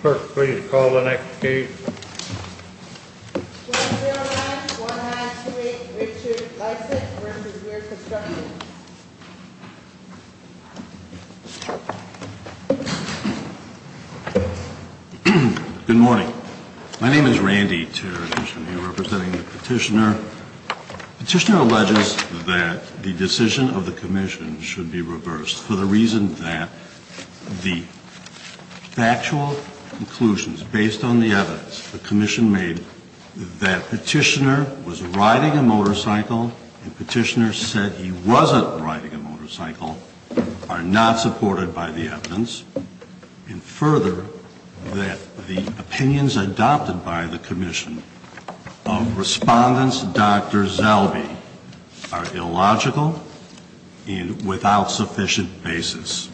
Clerk, please call the next case. 209-1928 Richard Liesik v. Weir Construction Good morning. My name is Randy Teradish and I'm here representing the petitioner. The petitioner alleges that the decision of the commission should be reversed for the reason that the factual conclusions based on the evidence the commission made that petitioner was riding a motorcycle and petitioner said he wasn't riding a motorcycle are not supported by the evidence, and further, that the opinions adopted by the commission of Respondent Dr. Zellbe are illogical and without sufficient basis.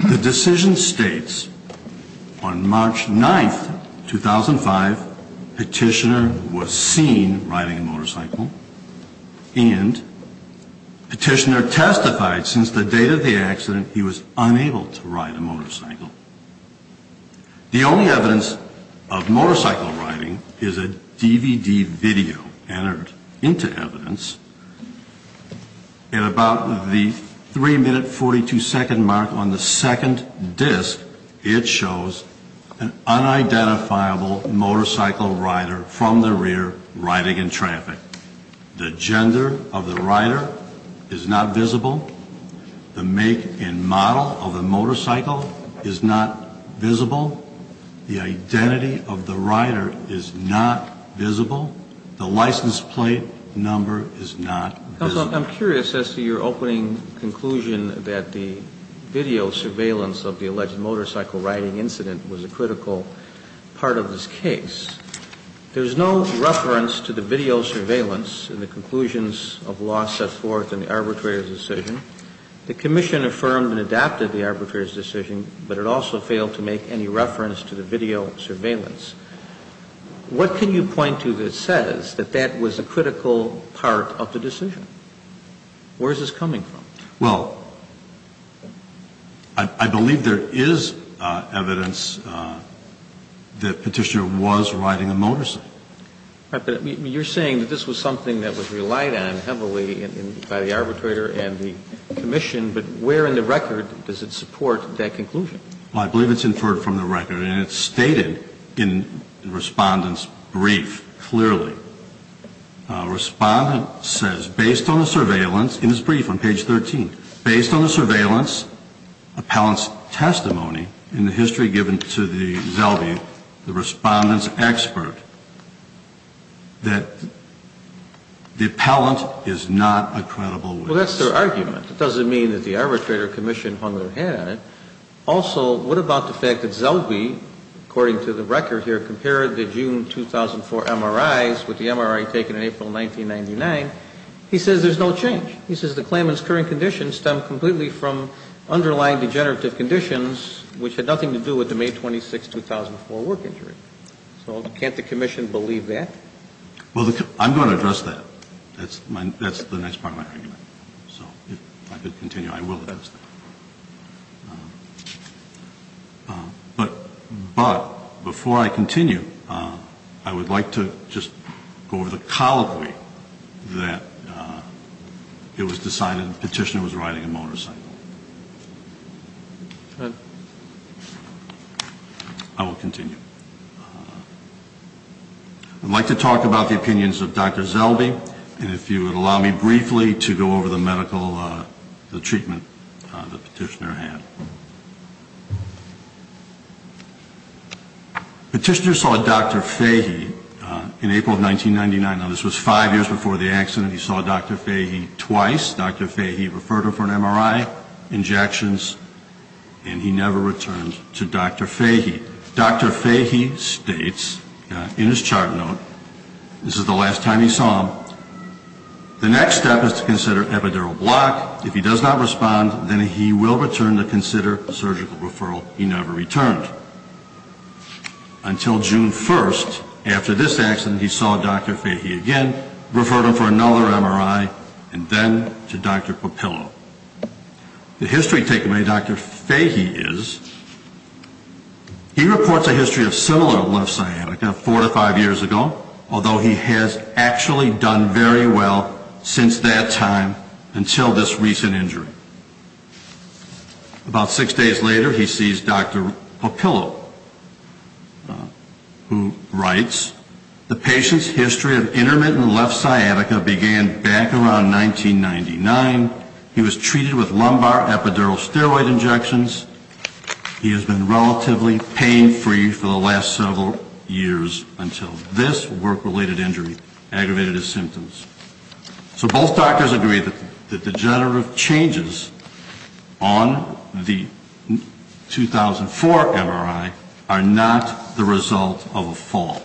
The decision states on March 9, 2005, petitioner was seen riding a motorcycle and petitioner testified since the date of the accident he was unable to ride a motorcycle. The only evidence of motorcycle riding is a DVD video entered into evidence. At about the 3 minute 42 second mark on the second disc, it shows an unidentifiable motorcycle rider from the rear riding in traffic. The gender of the rider is not visible. The make and model of the motorcycle is not visible. The identity of the rider is not visible. The license plate number is not visible. Counsel, I'm curious as to your opening conclusion that the video surveillance of the alleged motorcycle riding incident was a critical part of this case. There's no reference to the video surveillance in the conclusions of law set forth in the arbitrator's decision. The commission affirmed and adapted the arbitrator's decision, but it also failed to make any reference to the video surveillance. What can you point to that says that that was a critical part of the decision? Where is this coming from? Well, I believe there is evidence that petitioner was riding a motorcycle. You're saying that this was something that was relied on heavily by the arbitrator and the commission, but where in the record does it support that conclusion? Well, I believe it's inferred from the record, and it's stated in Respondent's brief clearly. Respondent says, based on the surveillance, in his brief on page 13, based on the surveillance, appellant's testimony in the history given to the Zelvi, the Respondent's expert, that the appellant is not a credible witness. Well, that's their argument. It doesn't mean that the arbitrator or commission hung their head on it. Also, what about the fact that Zelvi, according to the record here, compared the June 2004 MRIs with the MRI taken in April 1999? He says there's no change. He says the claimant's current condition stemmed completely from underlying degenerative conditions, which had nothing to do with the May 26, 2004 work injury. So can't the commission believe that? Well, I'm going to address that. That's the next part of my argument. So if I could continue, I will address that. But before I continue, I would like to just go over the colloquy that it was decided the petitioner was riding a motorcycle. I will continue. I'd like to talk about the opinions of Dr. Zelvi, and if you would allow me briefly to go over the medical treatment the petitioner had. The petitioner saw Dr. Fahey in April of 1999. Now, this was five years before the accident. He saw Dr. Fahey twice. Dr. Fahey referred him for an MRI, injections, and he never returned to Dr. Fahey. Dr. Fahey states in his chart note, this is the last time he saw him, the next step is to consider epidural block. If he does not respond, then he will return to consider surgical referral. He never returned. Until June 1, after this accident, he saw Dr. Fahey again, referred him for another MRI, and then to Dr. Popillo. The history taken by Dr. Fahey is, he reports a history of similar left sciatica four to five years ago, although he has actually done very well since that time until this recent injury. About six days later, he sees Dr. Popillo, who writes, the patient's history of intermittent left sciatica began back around 1999. He was treated with lumbar epidural steroid injections. He has been relatively pain-free for the last several years until this work-related injury aggravated his symptoms. So both doctors agree that the degenerative changes on the 2004 MRI are not the result of a fall.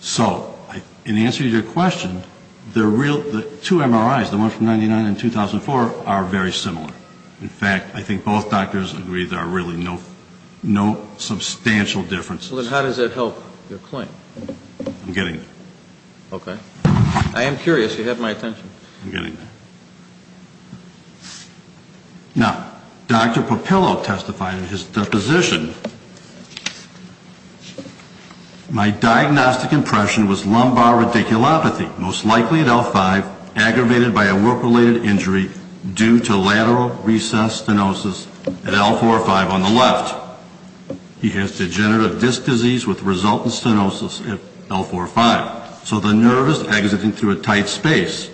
So in answer to your question, the two MRIs, the one from 1999 and 2004, are very similar. In fact, I think both doctors agree there are really no substantial differences. So then how does that help your claim? I'm getting there. Okay. I am curious. You have my attention. I'm getting there. Now, Dr. Popillo testified in his deposition, my diagnostic impression was lumbar radiculopathy, most likely at L5, aggravated by a work-related injury due to lateral recess stenosis at L4 or 5 on the left. He has degenerative disc disease with resultant stenosis at L4 or 5. So the nerve is exiting through a tight space.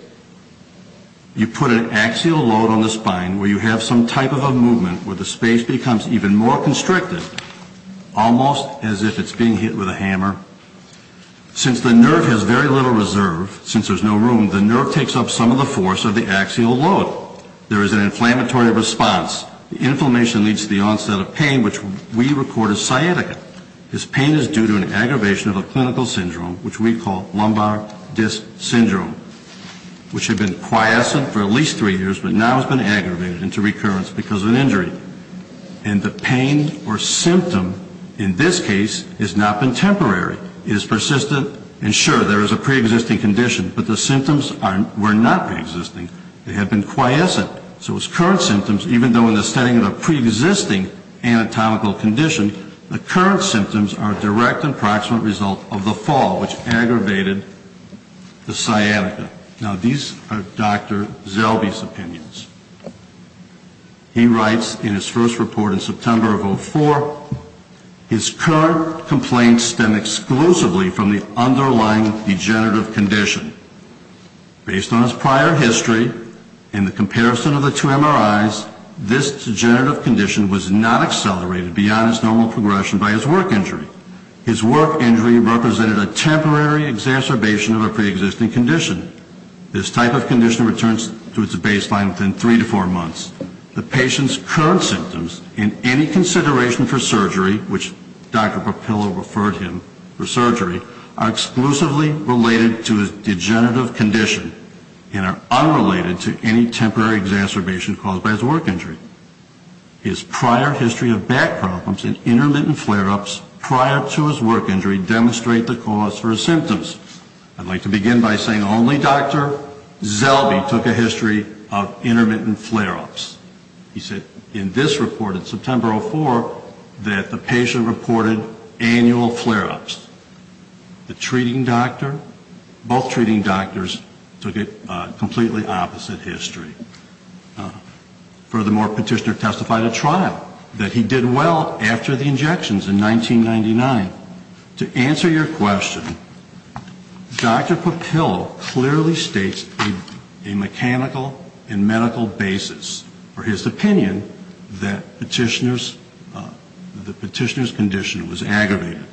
You put an axial load on the spine where you have some type of a movement where the space becomes even more constricted, almost as if it's being hit with a hammer. Since the nerve has very little reserve, since there's no room, the nerve takes up some of the force of the axial load. There is an inflammatory response. The inflammation leads to the onset of pain, which we record as sciatica. This pain is due to an aggravation of a clinical syndrome, which we call lumbar disc syndrome, which had been quiescent for at least three years, but now has been aggravated into recurrence because of an injury. And the pain or symptom in this case has not been temporary. It is persistent. And sure, there is a preexisting condition, but the symptoms were not preexisting. They had been quiescent. So his current symptoms, even though in the setting of a preexisting anatomical condition, the current symptoms are a direct and proximate result of the fall, which aggravated the sciatica. Now, these are Dr. Zellbe's opinions. He writes in his first report in September of 2004, his current complaints stem exclusively from the underlying degenerative condition. Based on his prior history and the comparison of the two MRIs, this degenerative condition was not accelerated beyond its normal progression by his work injury. His work injury represented a temporary exacerbation of a preexisting condition. This type of condition returns to its baseline within three to four months. The patient's current symptoms, in any consideration for surgery, which Dr. Papilla referred him for surgery, are exclusively related to his degenerative condition and are unrelated to any temporary exacerbation caused by his work injury. His prior history of back problems and intermittent flare-ups prior to his work injury demonstrate the cause for his symptoms. I'd like to begin by saying only Dr. Zellbe took a history of intermittent flare-ups. He said in this report in September of 2004 that the patient reported annual flare-ups. The treating doctor, both treating doctors took a completely opposite history. Furthermore, Petitioner testified at trial that he did well after the injections in 1999. To answer your question, Dr. Papilla clearly states a mechanical and medical basis for his opinion that the Petitioner's condition was aggravated.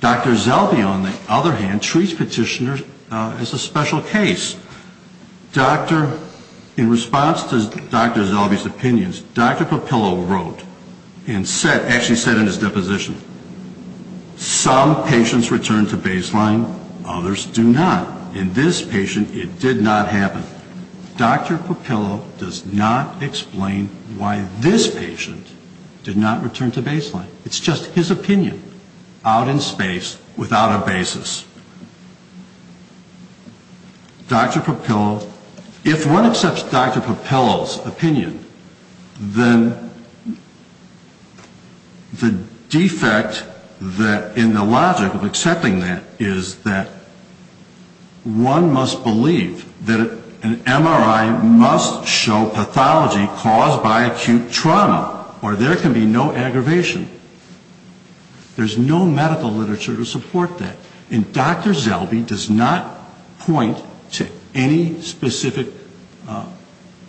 Dr. Zellbe, on the other hand, treats Petitioner as a special case. In response to Dr. Zellbe's opinions, Dr. Papilla wrote and actually said in his deposition, some patients return to baseline, others do not. In this patient, it did not happen. Dr. Papilla does not explain why this patient did not return to baseline. It's just his opinion out in space without a basis. Dr. Papilla, if one accepts Dr. Papilla's opinion, then the defect in the logic of accepting that is that one must believe that an MRI must show pathology caused by acute trauma or there can be no aggravation. There's no medical literature to support that. And Dr. Zellbe does not point to any specific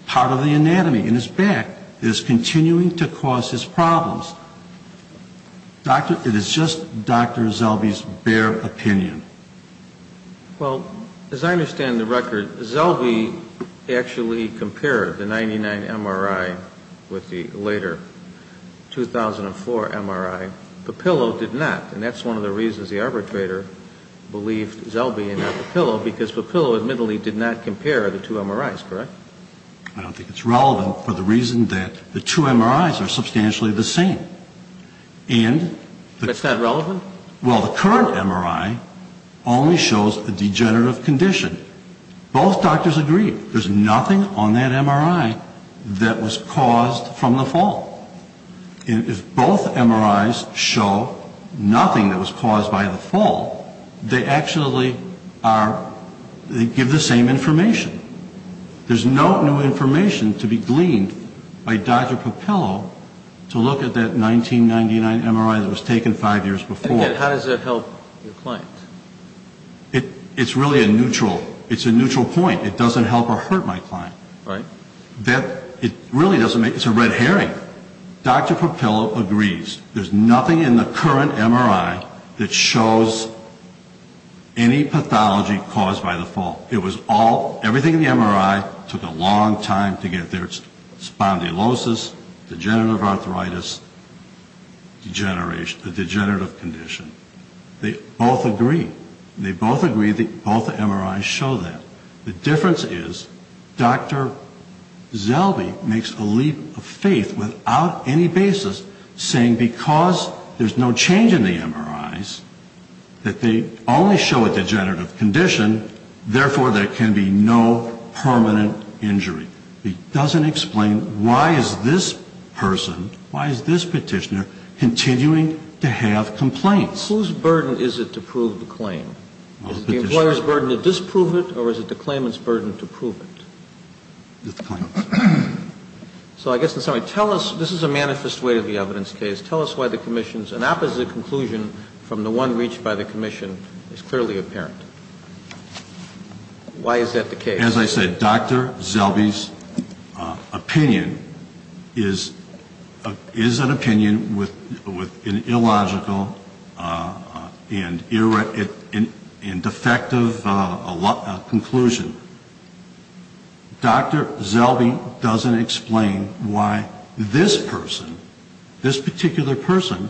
part of the anatomy in his back that is continuing to cause his problems. It is just Dr. Zellbe's bare opinion. Well, as I understand the record, Zellbe actually compared the 99 MRI with the later 2004 MRI. Papilla did not. And that's one of the reasons the arbitrator believed Zellbe and not Papilla, because Papilla admittedly did not compare the two MRIs, correct? I don't think it's relevant for the reason that the two MRIs are substantially the same. And the That's not relevant? Well, the current MRI only shows a degenerative condition. Both doctors agree there's nothing on that MRI that was caused from the fall. And if both MRIs show nothing that was caused by the fall, they actually give the same information. There's no new information to be gleaned by Dr. Papilla to look at that 1999 MRI that was taken five years before. And how does that help your client? It's really a neutral point. It doesn't help or hurt my client. Right. It really doesn't make it. It's a red herring. Dr. Papilla agrees. There's nothing in the current MRI that shows any pathology caused by the fall. It was all, everything in the MRI took a long time to get there. It's spondylosis, degenerative arthritis, a degenerative condition. They both agree. They both agree that both MRIs show that. The difference is Dr. Zelbe makes a leap of faith without any basis, saying because there's no change in the MRIs, that they only show a degenerative condition, therefore there can be no permanent injury. He doesn't explain why is this person, why is this petitioner, continuing to have complaints. Whose burden is it to prove the claim? Is it the employer's burden to disprove it or is it the claimant's burden to prove it? The claimant's. So I guess in some way, tell us, this is a manifest way to the evidence case, tell us why the commission's opposite conclusion from the one reached by the commission is clearly apparent. Why is that the case? As I said, Dr. Zelbe's opinion is an opinion with an illogical and defective conclusion. Dr. Zelbe doesn't explain why this person, this particular person,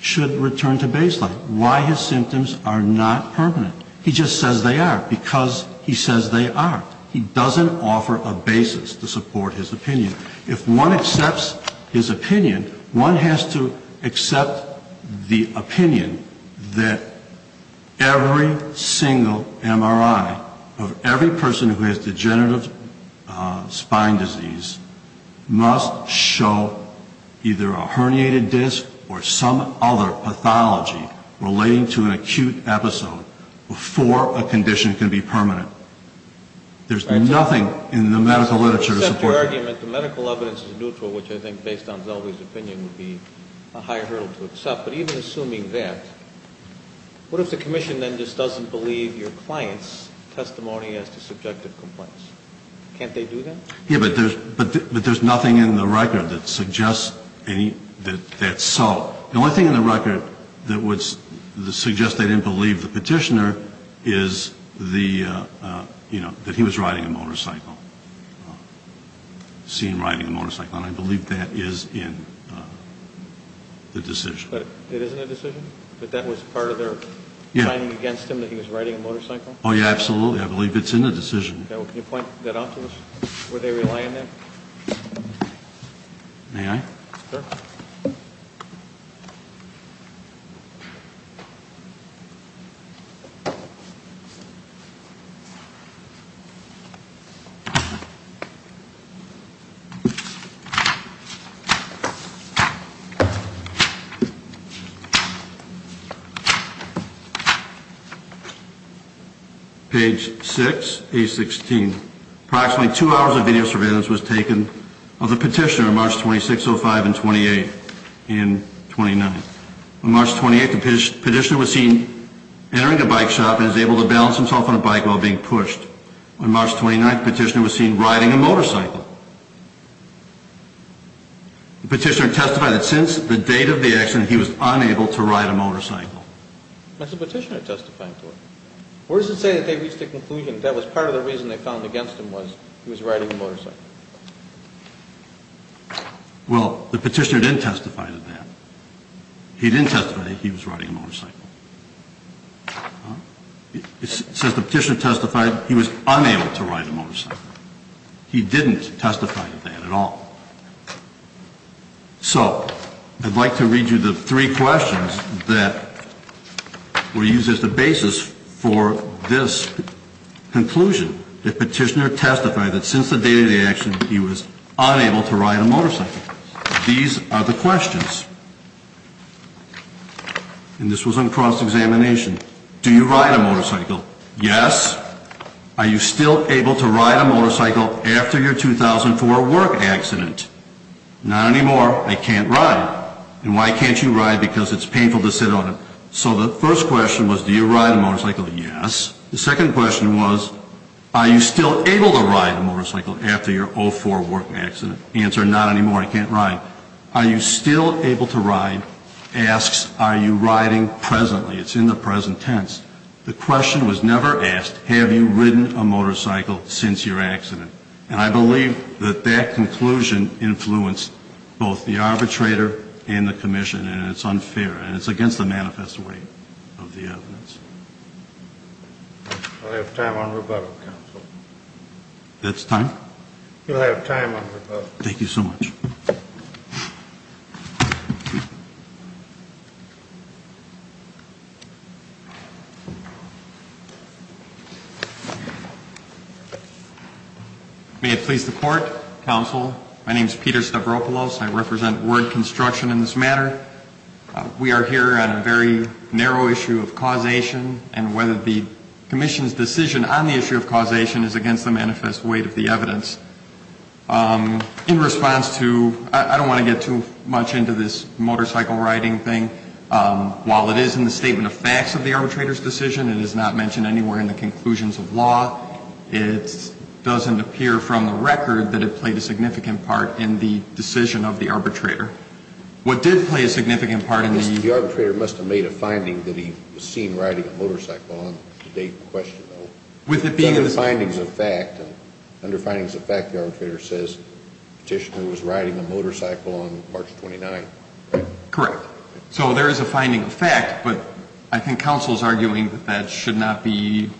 should return to baseline. Why his symptoms are not permanent. He just says they are because he says they are. He doesn't offer a basis to support his opinion. If one accepts his opinion, one has to accept the opinion that every single MRI of every person who has degenerative spine disease must show either a herniated disc or some other pathology relating to an acute episode before a condition can be permanent. There's nothing in the medical literature to support that. So to accept your argument, the medical evidence is neutral, which I think based on Zelbe's opinion would be a higher hurdle to accept. But even assuming that, what if the commission then just doesn't believe your client's testimony as to subjective complaints? Can't they do that? Yeah, but there's nothing in the record that suggests that's so. The only thing in the record that would suggest they didn't believe the Petitioner is that he was riding a motorcycle, seen riding a motorcycle. And I believe that is in the decision. But it isn't a decision? That that was part of their finding against him that he was riding a motorcycle? Oh, yeah, absolutely. I believe it's in the decision. Can you point that out to us, where they rely on that? May I? Sure. Page 6, page 16. Approximately two hours of video surveillance was taken of the Petitioner on March 26, 05, and 28 and 29. On March 28, the Petitioner was seen entering a bike shop and was able to balance himself on a bike while being pushed. On March 29, the Petitioner was seen riding a motorcycle. The Petitioner testified that since the date of the accident, he was unable to ride a motorcycle. That's what the Petitioner testified to. Where does it say that they reached a conclusion that was part of the reason they found against him was he was riding a motorcycle? Well, the Petitioner didn't testify to that. He didn't testify that he was riding a motorcycle. It says the Petitioner testified he was unable to ride a motorcycle. He didn't testify to that at all. So, I'd like to read you the three questions that were used as the basis for this conclusion. The Petitioner testified that since the date of the accident, he was unable to ride a motorcycle. These are the questions. And this was on cross-examination. Do you ride a motorcycle? Yes. Are you still able to ride a motorcycle after your 2004 work accident? Not anymore. I can't ride. And why can't you ride? Because it's painful to sit on it. So, the first question was, do you ride a motorcycle? Yes. The second question was, are you still able to ride a motorcycle after your 2004 work accident? Answer, not anymore. I can't ride. Are you still able to ride? Asks, are you riding presently? It's in the present tense. The question was never asked, have you ridden a motorcycle since your accident? And I believe that that conclusion influenced both the arbitrator and the commission. And it's unfair. And it's against the manifest way of the evidence. We'll have time on rebuttal, counsel. That's time? We'll have time on rebuttal. Thank you so much. May it please the court, counsel. My name is Peter Stavropoulos. I represent Word Construction in this matter. We are here on a very narrow issue of causation and whether the commission's decision on the issue of causation is against the manifest way of the evidence. In response to, I don't want to get too much into this motorcycle riding thing. While it is in the statement of facts of the arbitrator's decision, it is not mentioned anywhere in the conclusions of law. It doesn't appear from the record that it played a significant part in the decision of the arbitrator. What did play a significant part in the- The arbitrator must have made a finding that he was seen riding a motorcycle on the date in question, though. With it being in the- Under findings of fact, the arbitrator says the petitioner was riding a motorcycle on March 29th. Correct. So there is a finding of fact, but I think counsel is arguing that that should not be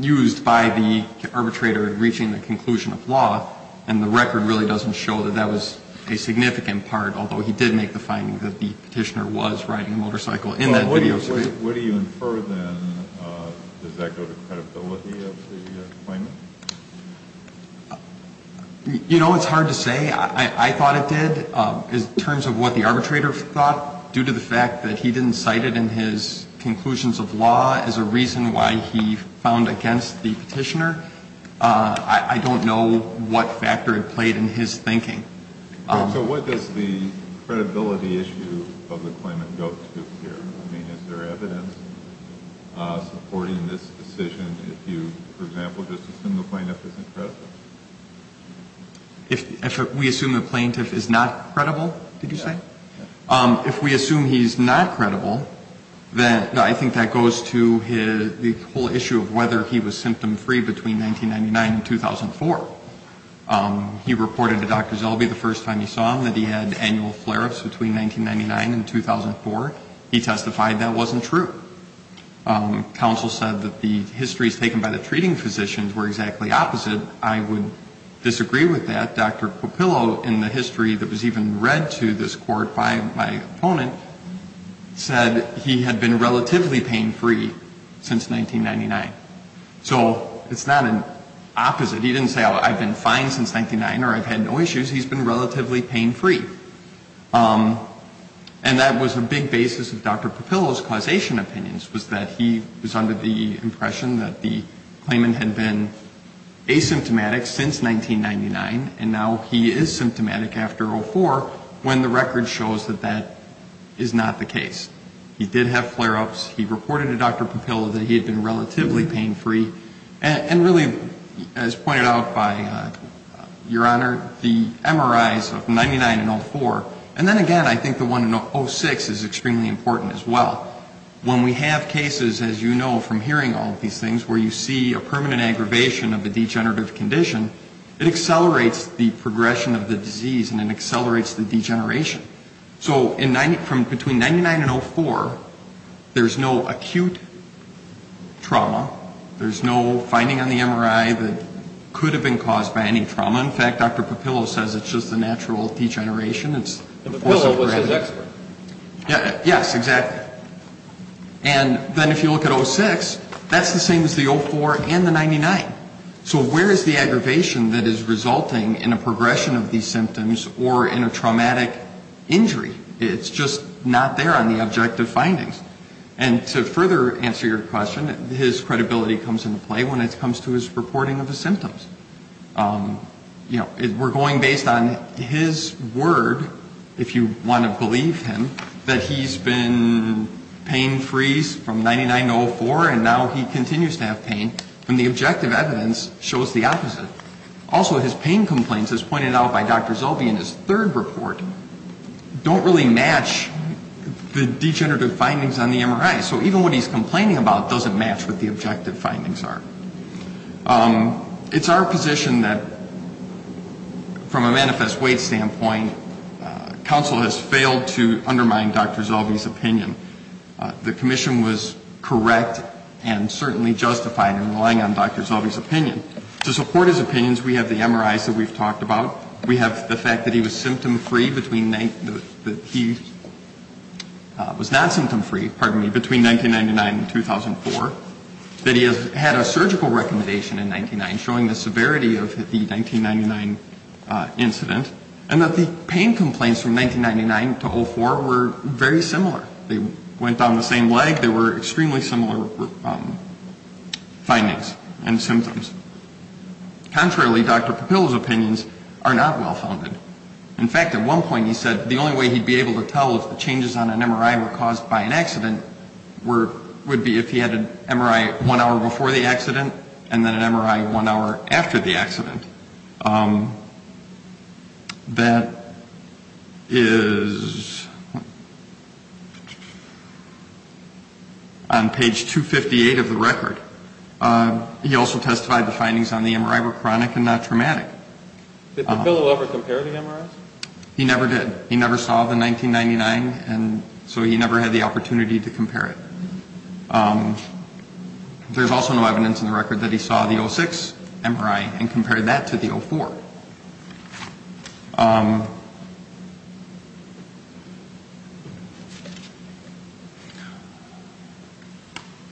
used by the arbitrator in reaching the conclusion of law. And the record really doesn't show that that was a significant part, although he did make the finding that the petitioner was riding a motorcycle in that video. What do you infer, then? Does that go to credibility of the claimant? You know, it's hard to say. I thought it did. In terms of what the arbitrator thought, due to the fact that he didn't cite it in his conclusions of law as a reason why he found against the petitioner, I don't know what factor it played in his thinking. So what does the credibility issue of the claimant go to here? I mean, is there evidence supporting this decision if you, for example, just assume the plaintiff isn't credible? If we assume the plaintiff is not credible, did you say? Yeah. If we assume he's not credible, then I think that goes to the whole issue of whether he was symptom-free between 1999 and 2004. He reported to Dr. Zellbe the first time he saw him that he had annual flare-ups between 1999 and 2004. He testified that wasn't true. Counsel said that the histories taken by the treating physicians were exactly opposite. I would disagree with that. Dr. Popillo, in the history that was even read to this court by my opponent, said he had been relatively pain-free since 1999. So it's not an opposite. He didn't say, oh, I've been fine since 1999 or I've had no issues. He's been relatively pain-free. And that was a big basis of Dr. Popillo's causation opinions was that he was under the impression that the claimant had been asymptomatic since 1999 and now he is symptomatic after 2004 when the record shows that that is not the case. He did have flare-ups. He reported to Dr. Popillo that he had been relatively pain-free. And really, as pointed out by Your Honor, the MRIs of 99 and 04, and then again I think the one in 06 is extremely important as well. When we have cases, as you know from hearing all of these things, where you see a permanent aggravation of the degenerative condition, it accelerates the progression of the disease and it accelerates the degeneration. So between 99 and 04, there's no acute trauma. There's no finding on the MRI that could have been caused by any trauma. In fact, Dr. Popillo says it's just the natural degeneration. It's the force of gravity. And Popillo was his expert. Yes, exactly. And then if you look at 06, that's the same as the 04 and the 99. So where is the aggravation that is resulting in a progression of these symptoms or in a traumatic injury? It's just not there on the objective findings. And to further answer your question, his credibility comes into play when it comes to his reporting of the symptoms. You know, we're going based on his word, if you want to believe him, that he's been pain-free from 99 to 04, and now he continues to have pain, when the objective evidence shows the opposite. Also, his pain complaints, as pointed out by Dr. Zellbee in his third report, don't really match the degenerative findings on the MRI. So even what he's complaining about doesn't match what the objective findings are. It's our position that, from a manifest weight standpoint, counsel has failed to undermine Dr. Zellbee's opinion. The commission was correct and certainly justified in relying on Dr. Zellbee's opinion. To support his opinions, we have the MRIs that we've talked about. We have the fact that he was symptom-free between 19 ñ that he was not symptom-free, pardon me, between 1999 and 2004. That he had a surgical recommendation in 99, showing the severity of the 1999 incident. And that the pain complaints from 1999 to 04 were very similar. They went down the same leg. They were extremely similar findings and symptoms. Contrarily, Dr. Papilla's opinions are not well-founded. In fact, at one point he said the only way he'd be able to tell if the changes on an MRI were caused by an accident would be if he had an MRI one hour before the accident and then an MRI one hour after the accident. That is on page 258 of the record. He also testified the findings on the MRI were chronic and not traumatic. Did Papilla ever compare the MRIs? He never did. He never saw the 1999, and so he never had the opportunity to compare it. There's also no evidence in the record that he saw the 06 MRI and compared that to the 04.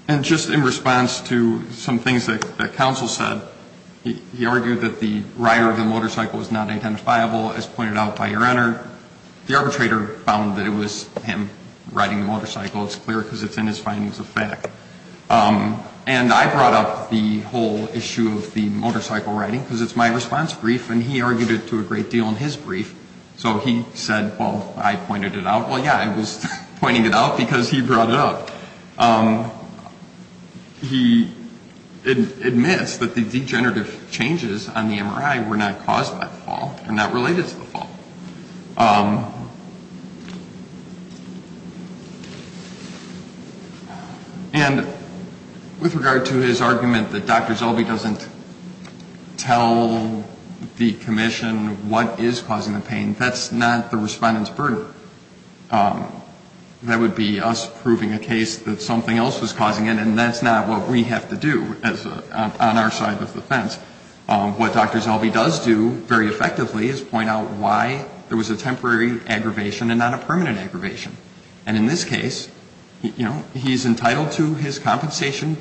And just in response to some things that counsel said, he argued that the rider of the motorcycle was not identifiable, as pointed out by your Honor. The arbitrator found that it was him riding the motorcycle. So it's clear because it's in his findings of fact. And I brought up the whole issue of the motorcycle riding because it's my response brief, and he argued it to a great deal in his brief. So he said, well, I pointed it out. Well, yeah, I was pointing it out because he brought it up. He admits that the degenerative changes on the MRI were not caused by the fall. They're not related to the fall. And with regard to his argument that Dr. Zolby doesn't tell the commission what is causing the pain, that's not the respondent's burden. That would be us proving a case that something else was causing it, and that's not what we have to do on our side of the fence. What Dr. Zolby does do very effectively is point out why there was a temporary aggravation and not a permanent aggravation. And in this case, you know, he's entitled to his compensation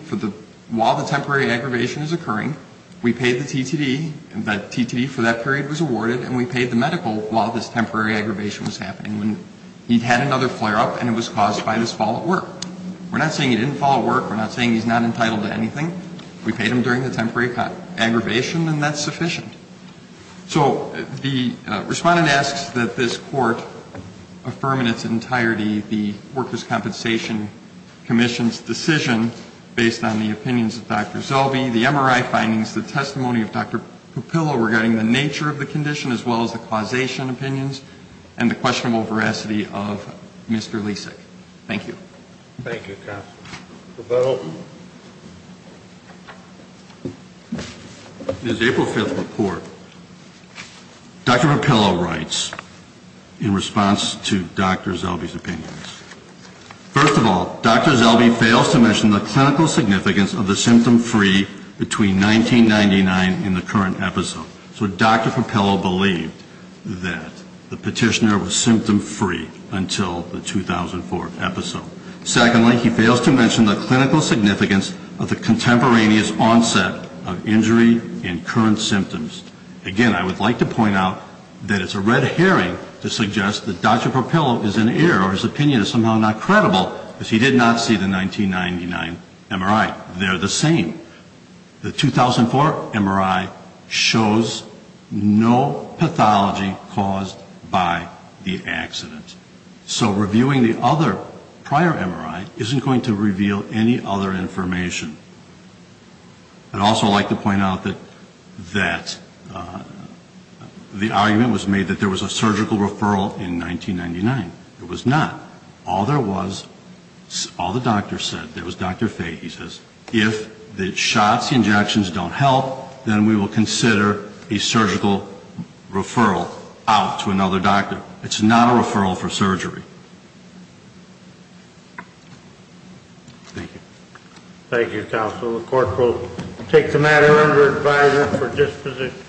while the temporary aggravation is occurring. We paid the TTD, and the TTD for that period was awarded, and we paid the medical while this temporary aggravation was happening. He'd had another flare-up, and it was caused by this fall at work. We're not saying he didn't fall at work. We're not saying he's not entitled to anything. We paid him during the temporary aggravation, and that's sufficient. So the respondent asks that this Court affirm in its entirety the Workers' Compensation Commission's decision based on the opinions of Dr. Zolby. The MRI findings, the testimony of Dr. Papillo regarding the nature of the condition, as well as the causation opinions, and the questionable veracity of Mr. Lisak. Thank you. Thank you, counsel. Mr. Bell? In his April 5th report, Dr. Papillo writes in response to Dr. Zolby's opinions. First of all, Dr. Zolby fails to mention the clinical significance of the symptom-free between 1999 and the current episode. So Dr. Papillo believed that the petitioner was symptom-free until the 2004 episode. Secondly, he fails to mention the clinical significance of the contemporaneous onset of injury and current symptoms. Again, I would like to point out that it's a red herring to suggest that Dr. Papillo is in error, or his opinion is somehow not credible, because he did not see the 1999 MRI. They're the same. The 2004 MRI shows no pathology caused by the accident. So reviewing the other prior MRI isn't going to reveal any other information. I'd also like to point out that the argument was made that there was a surgical referral in 1999. There was not. All there was, all the doctors said, there was Dr. Fay. He says, if the shots, the injections don't help, then we will consider a surgical referral out to another doctor. It's not a referral for surgery. Thank you. Thank you, counsel. The court will take the matter under advisory for disposition.